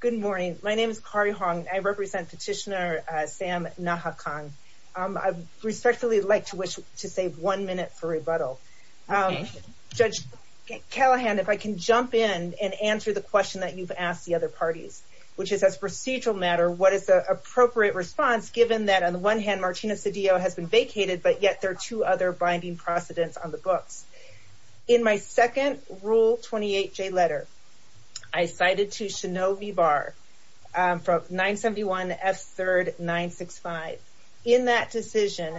Good morning. My name is Kari Hong. I represent petitioner Sam Nakhokkong. I'd respectfully like to wish to save one minute for rebuttal. Judge Callahan, if I can jump in and answer the question that you've asked the other parties, which is as procedural matter, what is the appropriate response given that on the one hand, Martina Cedillo has been vacated, but yet there are two other binding precedents on the books. In my second Rule 28J letter, I cited to Shano V. Barr from 971 F. 3rd 965. In that decision,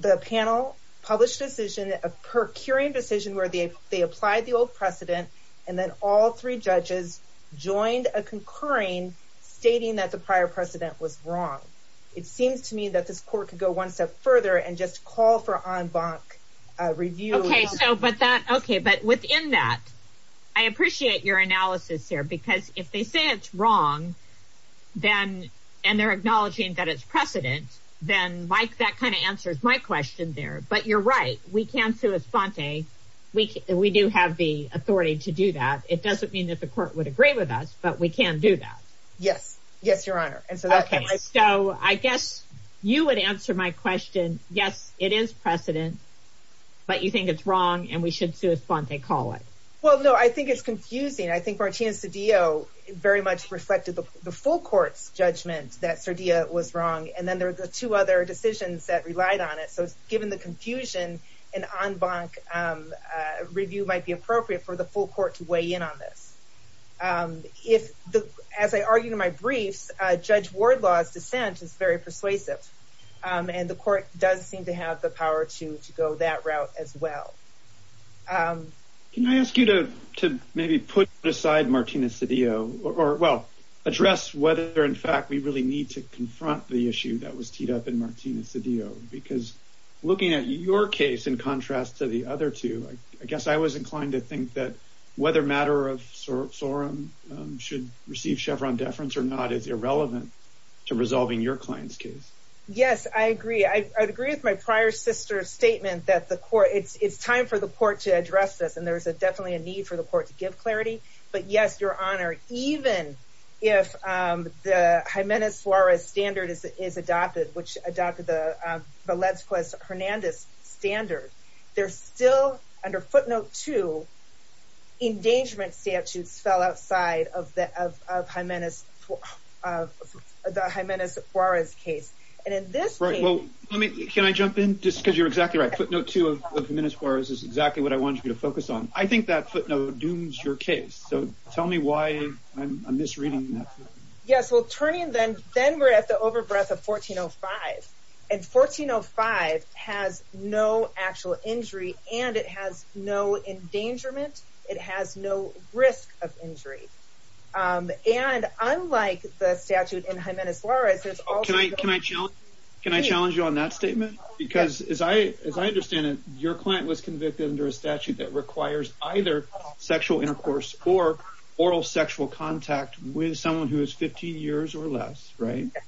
the panel published a decision, a procuring decision where they applied the old precedent, and then all three judges joined a concurring stating that the prior precedent was wrong. It seems to me that this court could go one step further and just call for en banc review. Okay, so but that okay, but within that, I appreciate your analysis here, because if they say it's wrong, then, and they're acknowledging that it's precedent, then Mike, that kind of answers my question there. But you're right, we can sue Esponte. We do have the authority to do that. It doesn't mean that the court would agree with us. But we can do that. Yes, yes, Your Honor. And so okay, so I guess you would answer my question. Yes, it is precedent. But you think it's wrong, and we should sue Esponte, call it? Well, no, I think it's confusing. I think Martina Cedillo very much reflected the full court's judgment that Cerdillo was wrong. And then there were the two other decisions that relied on it. So given the confusion, an en banc review might be appropriate for the full court to weigh in on this. As I argued in my briefs, Judge Wardlaw's dissent is very persuasive. And the court does seem to have the power to go that route as well. Can I ask you to maybe put aside Martina Cedillo or well, address whether in fact, we really need to confront the issue that was teed up in Martina Cedillo. Because looking at your case, in contrast to the other two, I guess I was inclined to think that whether matter of sorum should receive Chevron deference or not is irrelevant to resolving your client's case. Yes, I agree. I agree with my prior sister's statement that the court, it's time for the court to address this. And there's a definitely a need for the court to give clarity. But yes, Your Honor, even if the Jimenez Suarez standard is adopted, which adopted the Valenzuela-Hernandez standard, there's still, under footnote two, endangerment statutes fell outside of the Jimenez Suarez case. And in this case... Right, well, let me, can I jump in just because you're exactly right. Footnote two of Jimenez Suarez is exactly what I want you to focus on. I think that footnote dooms your case. So tell me why I'm misreading that. Yes, well, turning then, then we're at the overbreath of 1405. And 1405 has no actual injury and it has no endangerment. It has no risk of injury. And unlike the statute in Jimenez Suarez... Can I challenge you on that statement? Because as I understand it, your client was convicted under a statute that requires either sexual intercourse or oral sexual contact with someone who is 15 years or less, right? Yes.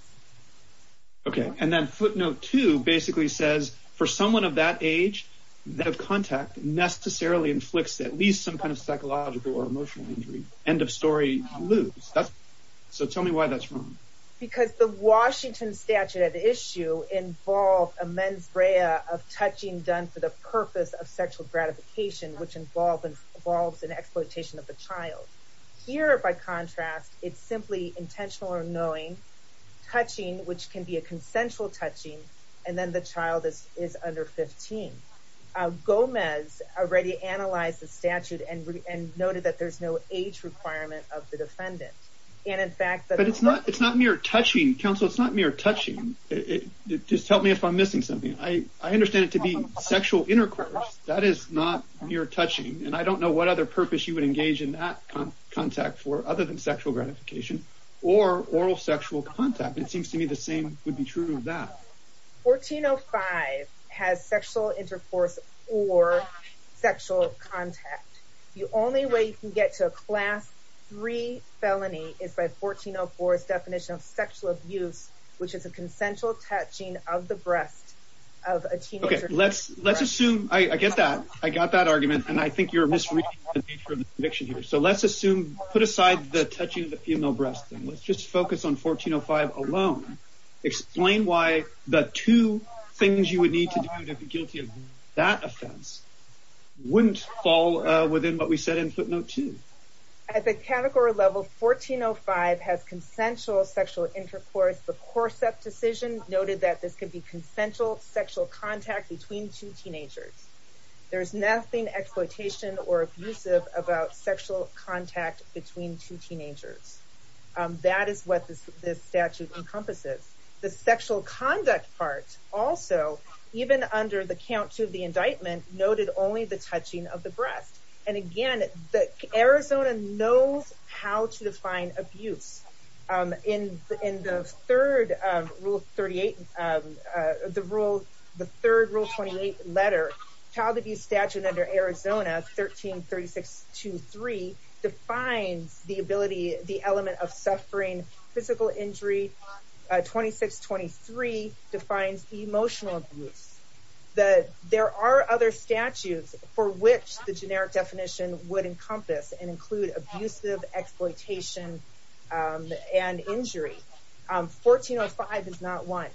Okay. And then footnote two basically says, for someone of that age, that contact necessarily inflicts at least some kind of psychological or emotional injury. End of story, lose. So tell me why that's wrong. Because the Washington statute at issue involved a mens rea of touching done for the purpose of sexual gratification, which involves an exploitation of the child. Here, by contrast, it's simply intentional or knowing, touching, which can be a consensual touching, and then the child is under 15. Gomez already analyzed the statute and noted that there's no age requirement of the defendant. And in fact... But it's not mere touching, counsel. It's not mere touching. Just tell me if I'm missing something. I understand it to be sexual intercourse. That is not mere touching. And I don't know what other purpose you would engage in that contact for other than sexual gratification or oral sexual contact. It seems to me the same would be true of that. 1405 has sexual intercourse or sexual contact. The only way you can get to a class three felony is by 1404's definition of sexual abuse, which is a consensual touching of the breast of a teenager. Okay. Let's assume... I get that. I got that argument. And I think you're misreading the nature of the conviction here. So let's assume... Put aside the touching of the female breast. And let's just focus on 1405 alone. Explain why the two things you would need to do to be guilty of that offense wouldn't fall within what we said in footnote two. At the category level, 1405 has consensual sexual intercourse. The Corsep decision noted that this could be consensual sexual contact between two teenagers. There's nothing exploitation or abusive about sexual contact between two teenagers. That is what this statute encompasses. The sexual conduct part also, even under the counts of the indictment, noted only the touching of the breast. And again, Arizona knows how to define abuse. In the third rule 28 letter, child abuse statute under Arizona, 1336.23, defines the ability, the element of suffering physical injury. 2623 defines emotional abuse. There are other statutes for which the generic definition would encompass and include abusive exploitation and injury. 1405 is not one.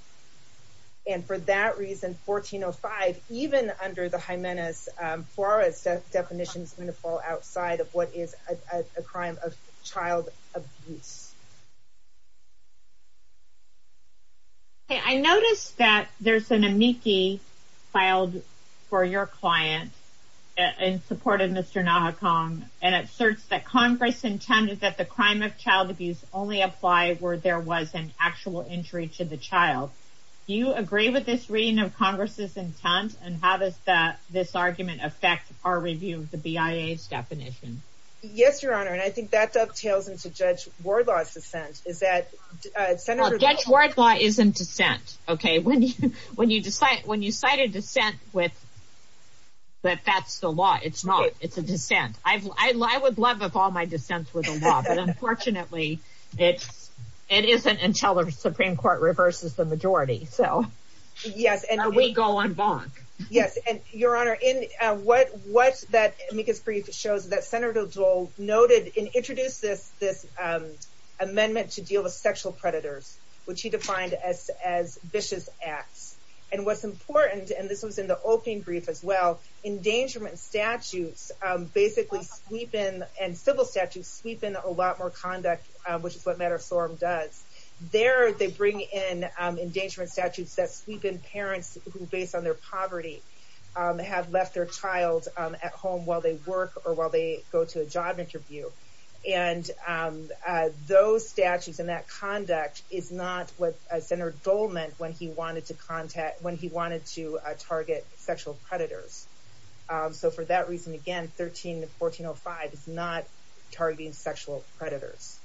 And for that reason, 1405, even under the Jimenez-Fuarez definitions, is going to fall within what we said in footnote two. I noticed that there's an amici filed for your client in support of Mr. Nahakong and it asserts that Congress intended that the crime of child abuse only apply where there was an actual injury to the child. Do you agree with this reading of Congress's intent and how does this argument affect our review of the BIA's definition? Yes, Your Honor, and I think that dovetails to Judge Wardlaw's dissent. Judge Wardlaw is in dissent. When you cite a dissent, but that's the law, it's not. It's a dissent. I would love if all my dissents were the law, but unfortunately, it isn't until the Supreme Court reverses the majority, so we go on bonk. Yes, and Your Honor, what that amicus brief shows is that Senator Dole noted and introduced this amendment to deal with sexual predators, which he defined as vicious acts. And what's important, and this was in the opening brief as well, endangerment statutes basically sweep in, and civil statutes sweep in a lot more conduct, which is what matter of sorum does. There, they bring in endangerment statutes that sweep in parents who, based on their poverty, have left their child at home while they work or while they go to a job interview. And those statutes and that conduct is not what Senator Dole meant when he wanted to target sexual predators. So for that reason, again, 13-1405 is not targeting sexual predators.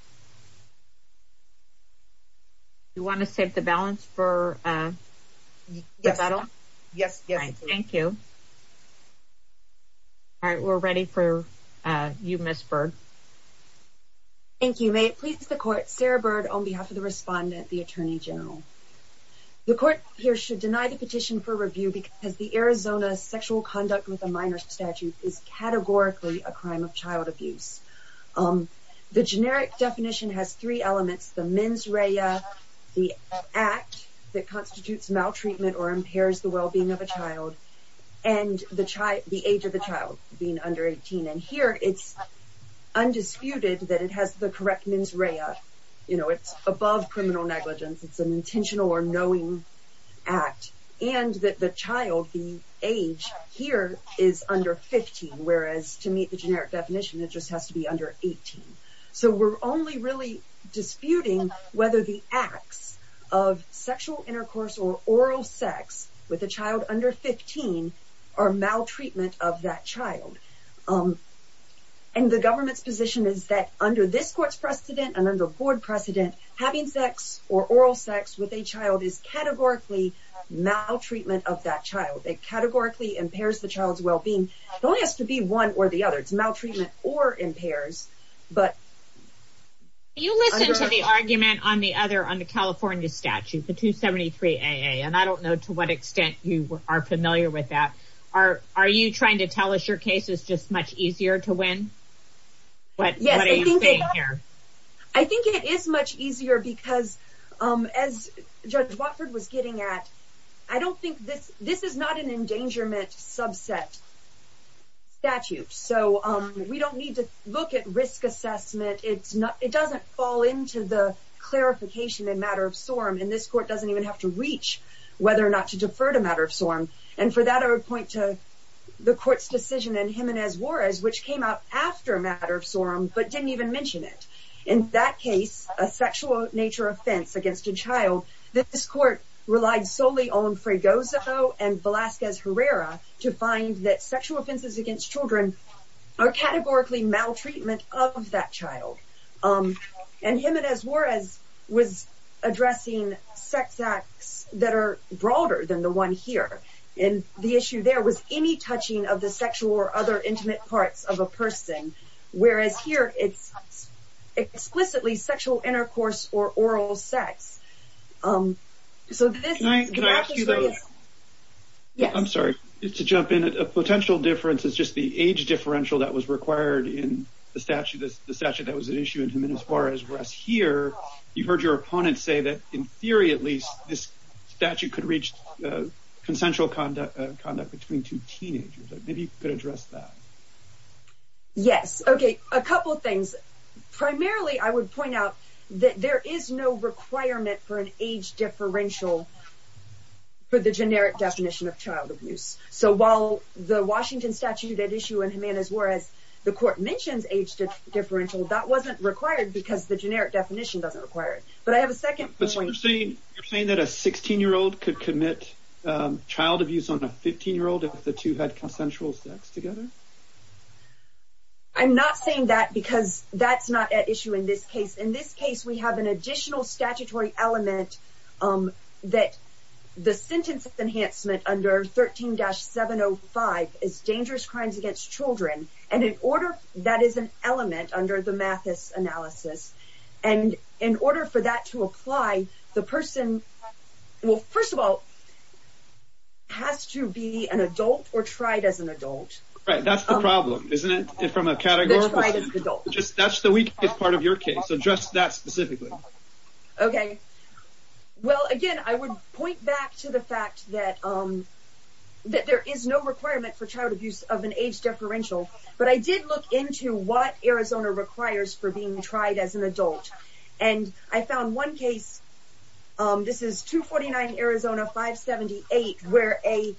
You want to save the balance for the battle? Yes. Thank you. All right, we're ready for you, Ms. Bird. Thank you. May it please the Court, Sarah Bird on behalf of the respondent, the Attorney General. The Court here should deny the petition for review because the Arizona sexual conduct with a minor statute is categorically a crime of child abuse. The generic definition has three elements, the mens rea, the act that constitutes maltreatment or impairs the well-being of a child, and the age of the child being under 18. And here, it's undisputed that it has the correct mens rea. You know, it's above criminal negligence. It's an intentional or knowing act. And that the child, the age here is under 15, whereas to meet the under 18. So we're only really disputing whether the acts of sexual intercourse or oral sex with a child under 15 are maltreatment of that child. And the government's position is that under this Court's precedent and under board precedent, having sex or oral sex with a child is categorically maltreatment of that child. It categorically impairs the child's well-being. It only has to one or the other. It's maltreatment or impairs. But you listen to the argument on the other, on the California statute, the 273 AA. And I don't know to what extent you are familiar with that. Are you trying to tell us your case is just much easier to win? I think it is much easier because as Judge Watford was getting at, I don't think this, this is not an endangerment subset statute. So we don't need to look at risk assessment. It's not, it doesn't fall into the clarification in matter of sorum. And this Court doesn't even have to reach whether or not to defer to matter of sorum. And for that, I would point to the Court's decision in Jimenez Juarez, which came out after a matter of sorum, but didn't even mention it. In that case, a sexual nature offense against a child, this Court relied solely on Fregoso and Velazquez Herrera to find that sexual offenses against children are categorically maltreatment of that child. And Jimenez Juarez was addressing sex acts that are broader than the one here. And the issue there was any touching of the sexual or other intimate parts of a person. Whereas here, it's explicitly sexual intercourse or oral sex. Yeah, I'm sorry to jump in at a potential difference. It's just the age differential that was required in the statute, the statute that was at issue in Jimenez Juarez. Whereas here, you've heard your opponent say that in theory, at least this statute could reach consensual conduct, conduct between two teenagers. Maybe you could address that. Yes. Okay. A couple of things. Primarily, I would point out that there is no requirement for an age differential for the generic definition of child abuse. So while the Washington statute at issue in Jimenez Juarez, the Court mentions age differential, that wasn't required because the generic definition doesn't require it. But I have a second point. But you're saying that a 16-year-old could commit child abuse on a 15-year-old if the two had consensual sex together? I'm not saying that because that's not at issue in this case. In this case, we have an additional statutory element that the sentence enhancement under 13-705 is dangerous crimes against children. And in order, that is an element under the Mathis analysis. And in order for that to apply, the person, well, first of all, has to be an adult or tried as an adult. Right. That's the problem, isn't it? From a category perspective. They're tried as an adult. That's the weakest part of your case. So address that specifically. Okay. Well, again, I would point back to the fact that there is no requirement for child abuse of an age differential. But I did look into what Arizona 578, where a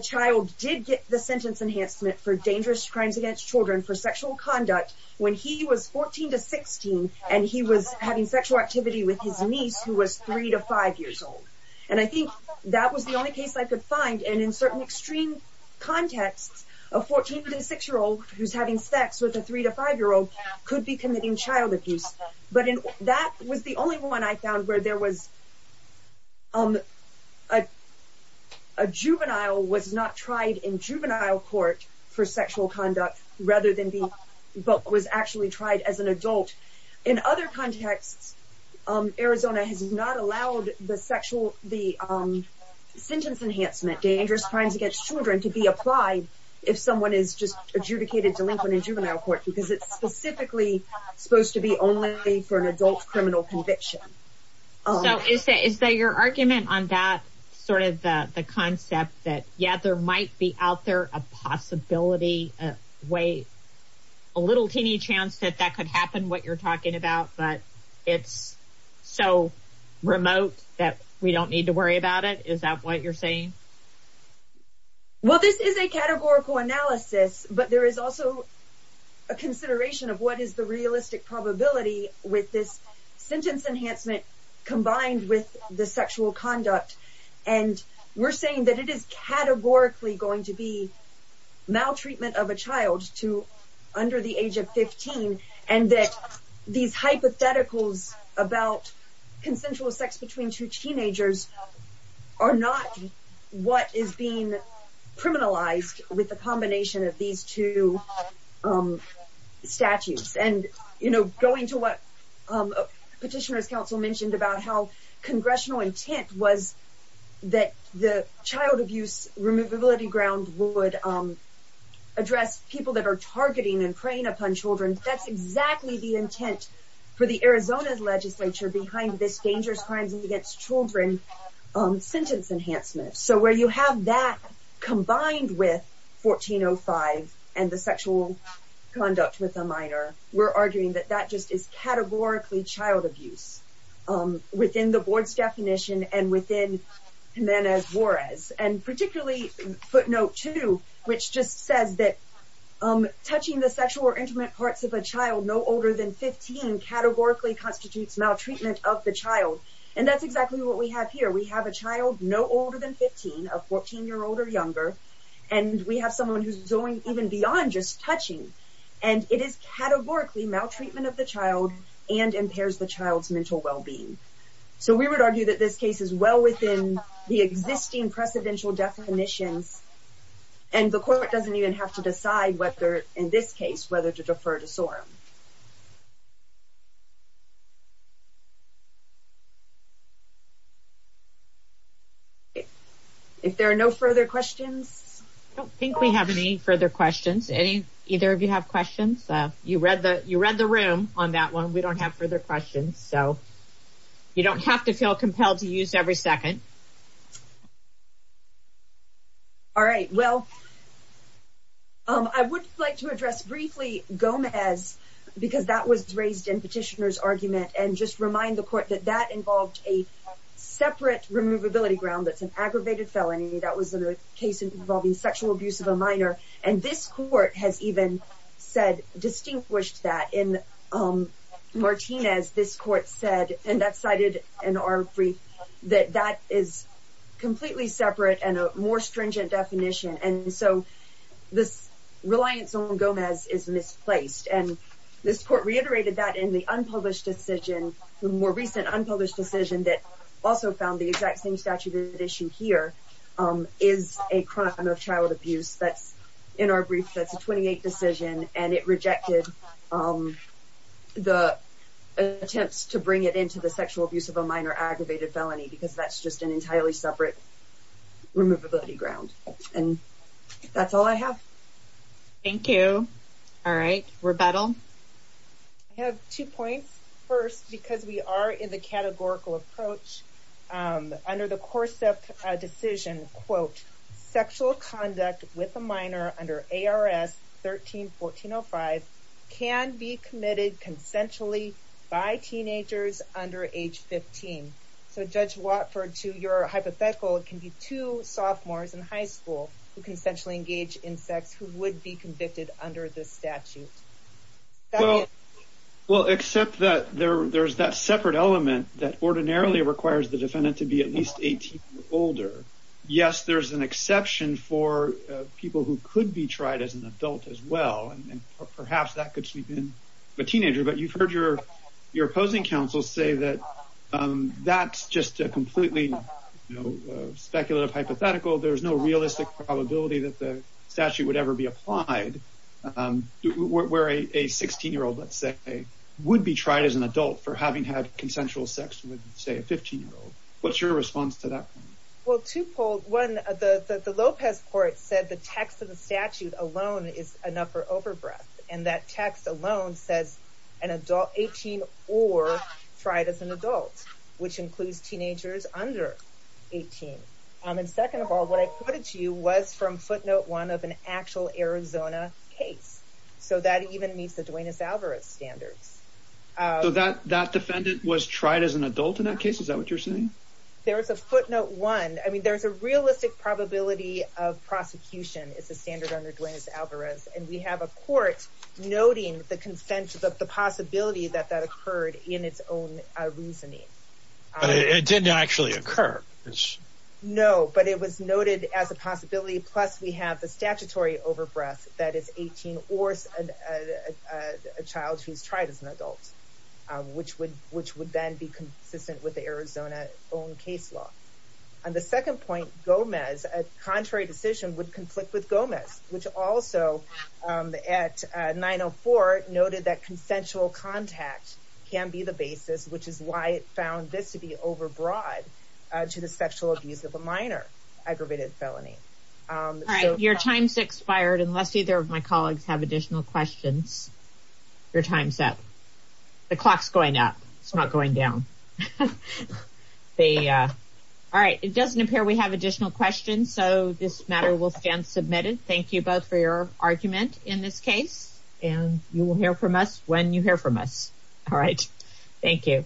child did get the sentence enhancement for dangerous crimes against children for sexual conduct when he was 14 to 16, and he was having sexual activity with his niece, who was three to five years old. And I think that was the only case I could find. And in certain extreme contexts, a 14 to six-year-old who's having sex with a three to five year old could be committing child abuse. But that was the only one I found where there was a juvenile was not tried in juvenile court for sexual conduct, but was actually tried as an adult. In other contexts, Arizona has not allowed the sentence enhancement, dangerous crimes against children, to be applied if someone is just adjudicated delinquent in juvenile court, because it's specifically supposed to be only for an adult criminal conviction. So is there your argument on that sort of the concept that, yeah, there might be out there a possibility, a way, a little teeny chance that that could happen, what you're talking about, but it's so remote that we don't need to worry about it? Is that what you're saying? Well, this is a categorical analysis, but there is also a consideration of what is the realistic probability with this sentence enhancement, combined with the sexual conduct. And we're saying that it is categorically going to be maltreatment of a child to under the age of 15. And that these hypotheticals about consensual sex between two teenagers are not what is being criminalized with a combination of these two statutes. And, you know, going to what Petitioner's Council mentioned about how congressional intent was that the child abuse removability ground would address people that that's exactly the intent for the Arizona's legislature behind this dangerous crimes against children sentence enhancement. So where you have that combined with 1405 and the sexual conduct with a minor, we're arguing that that just is categorically child abuse within the board's definition and within Jimenez-Juarez. And particularly footnote two, which just says that touching the sexual or intimate parts of a child no older than 15 categorically constitutes maltreatment of the child. And that's exactly what we have here. We have a child no older than 15, a 14-year-old or younger, and we have someone who's going even beyond just touching. And it is categorically maltreatment of the child and impairs the child's mental well-being. So we would argue that this case is well within the existing precedential definitions and the court doesn't even have to decide whether, in this case, whether to defer to SORM. If there are no further questions? I don't think we have any further questions. Any, either of you have questions? You read the, you read the room on that one. We don't have further questions. So you don't have to feel compelled to use every second. All right. Well, I would like to address briefly Gomez because that was raised in petitioner's argument and just remind the court that that involved a separate removability ground that's an aggravated felony. That was a case involving sexual abuse of a minor. And this said, and that's cited in our brief, that that is completely separate and a more stringent definition. And so this reliance on Gomez is misplaced. And this court reiterated that in the unpublished decision, the more recent unpublished decision that also found the exact same statute issue here is a crime of child abuse. That's in our brief, that's a 28 decision and it rejected the attempts to bring it into the sexual abuse of a minor aggravated felony, because that's just an entirely separate removability ground. And that's all I have. Thank you. All right. Rebettal? I have two points. First, because we are in the categorical approach, under the course of a decision, quote, sexual conduct with a minor under ARS 13-1405 can be committed consensually by teenagers under age 15. So Judge Watford, to your hypothetical, it can be two sophomores in high school who consensually engage in sex who would be convicted under this statute. Well, except that there's that separate element that ordinarily requires the defendant to be at least 18 or older. Yes, there's an exception for people who could be tried as an adult as well. And perhaps that could sweep in a teenager, but you've heard your opposing counsel say that that's just a completely speculative hypothetical. There's no realistic probability that the statute would ever be applied where a 16-year-old, let's say, would be tried as an adult for having had consensual sex with, say, a 15-year-old. What's your response to that? Well, two polls. One, the Lopez court said the text of the statute alone is enough for overbreadth. And that text alone says 18 or tried as an adult, which includes teenagers under 18. And second of all, what I quoted to you was from footnote one of an actual Arizona case. So that even meets the Duenas-Alvarez standards. So that defendant was tried as an adult in that case? Is that what you're saying? There's a footnote one. I mean, there's a realistic probability of prosecution. It's a standard under Duenas-Alvarez. And we have a court noting the consensus of the possibility that that occurred in its own reasoning. But it didn't actually occur. No, but it was noted as a possibility. Plus, we have the statutory overbreadth that is 18 or a child who's tried as an adult, which would then be consistent with the Arizona own case law. And the second point, Gomez, a contrary decision would conflict with Gomez, which also at 904 noted that consensual contact can be the basis, which is why it found this to overbroad to the sexual abuse of a minor aggravated felony. Your time's expired, unless either of my colleagues have additional questions. Your time's up. The clock's going up. It's not going down. All right, it doesn't appear we have additional questions. So this matter will stand submitted. Thank you both for your argument in this case. And you will hear from us when you hear from us. All right. Thank you.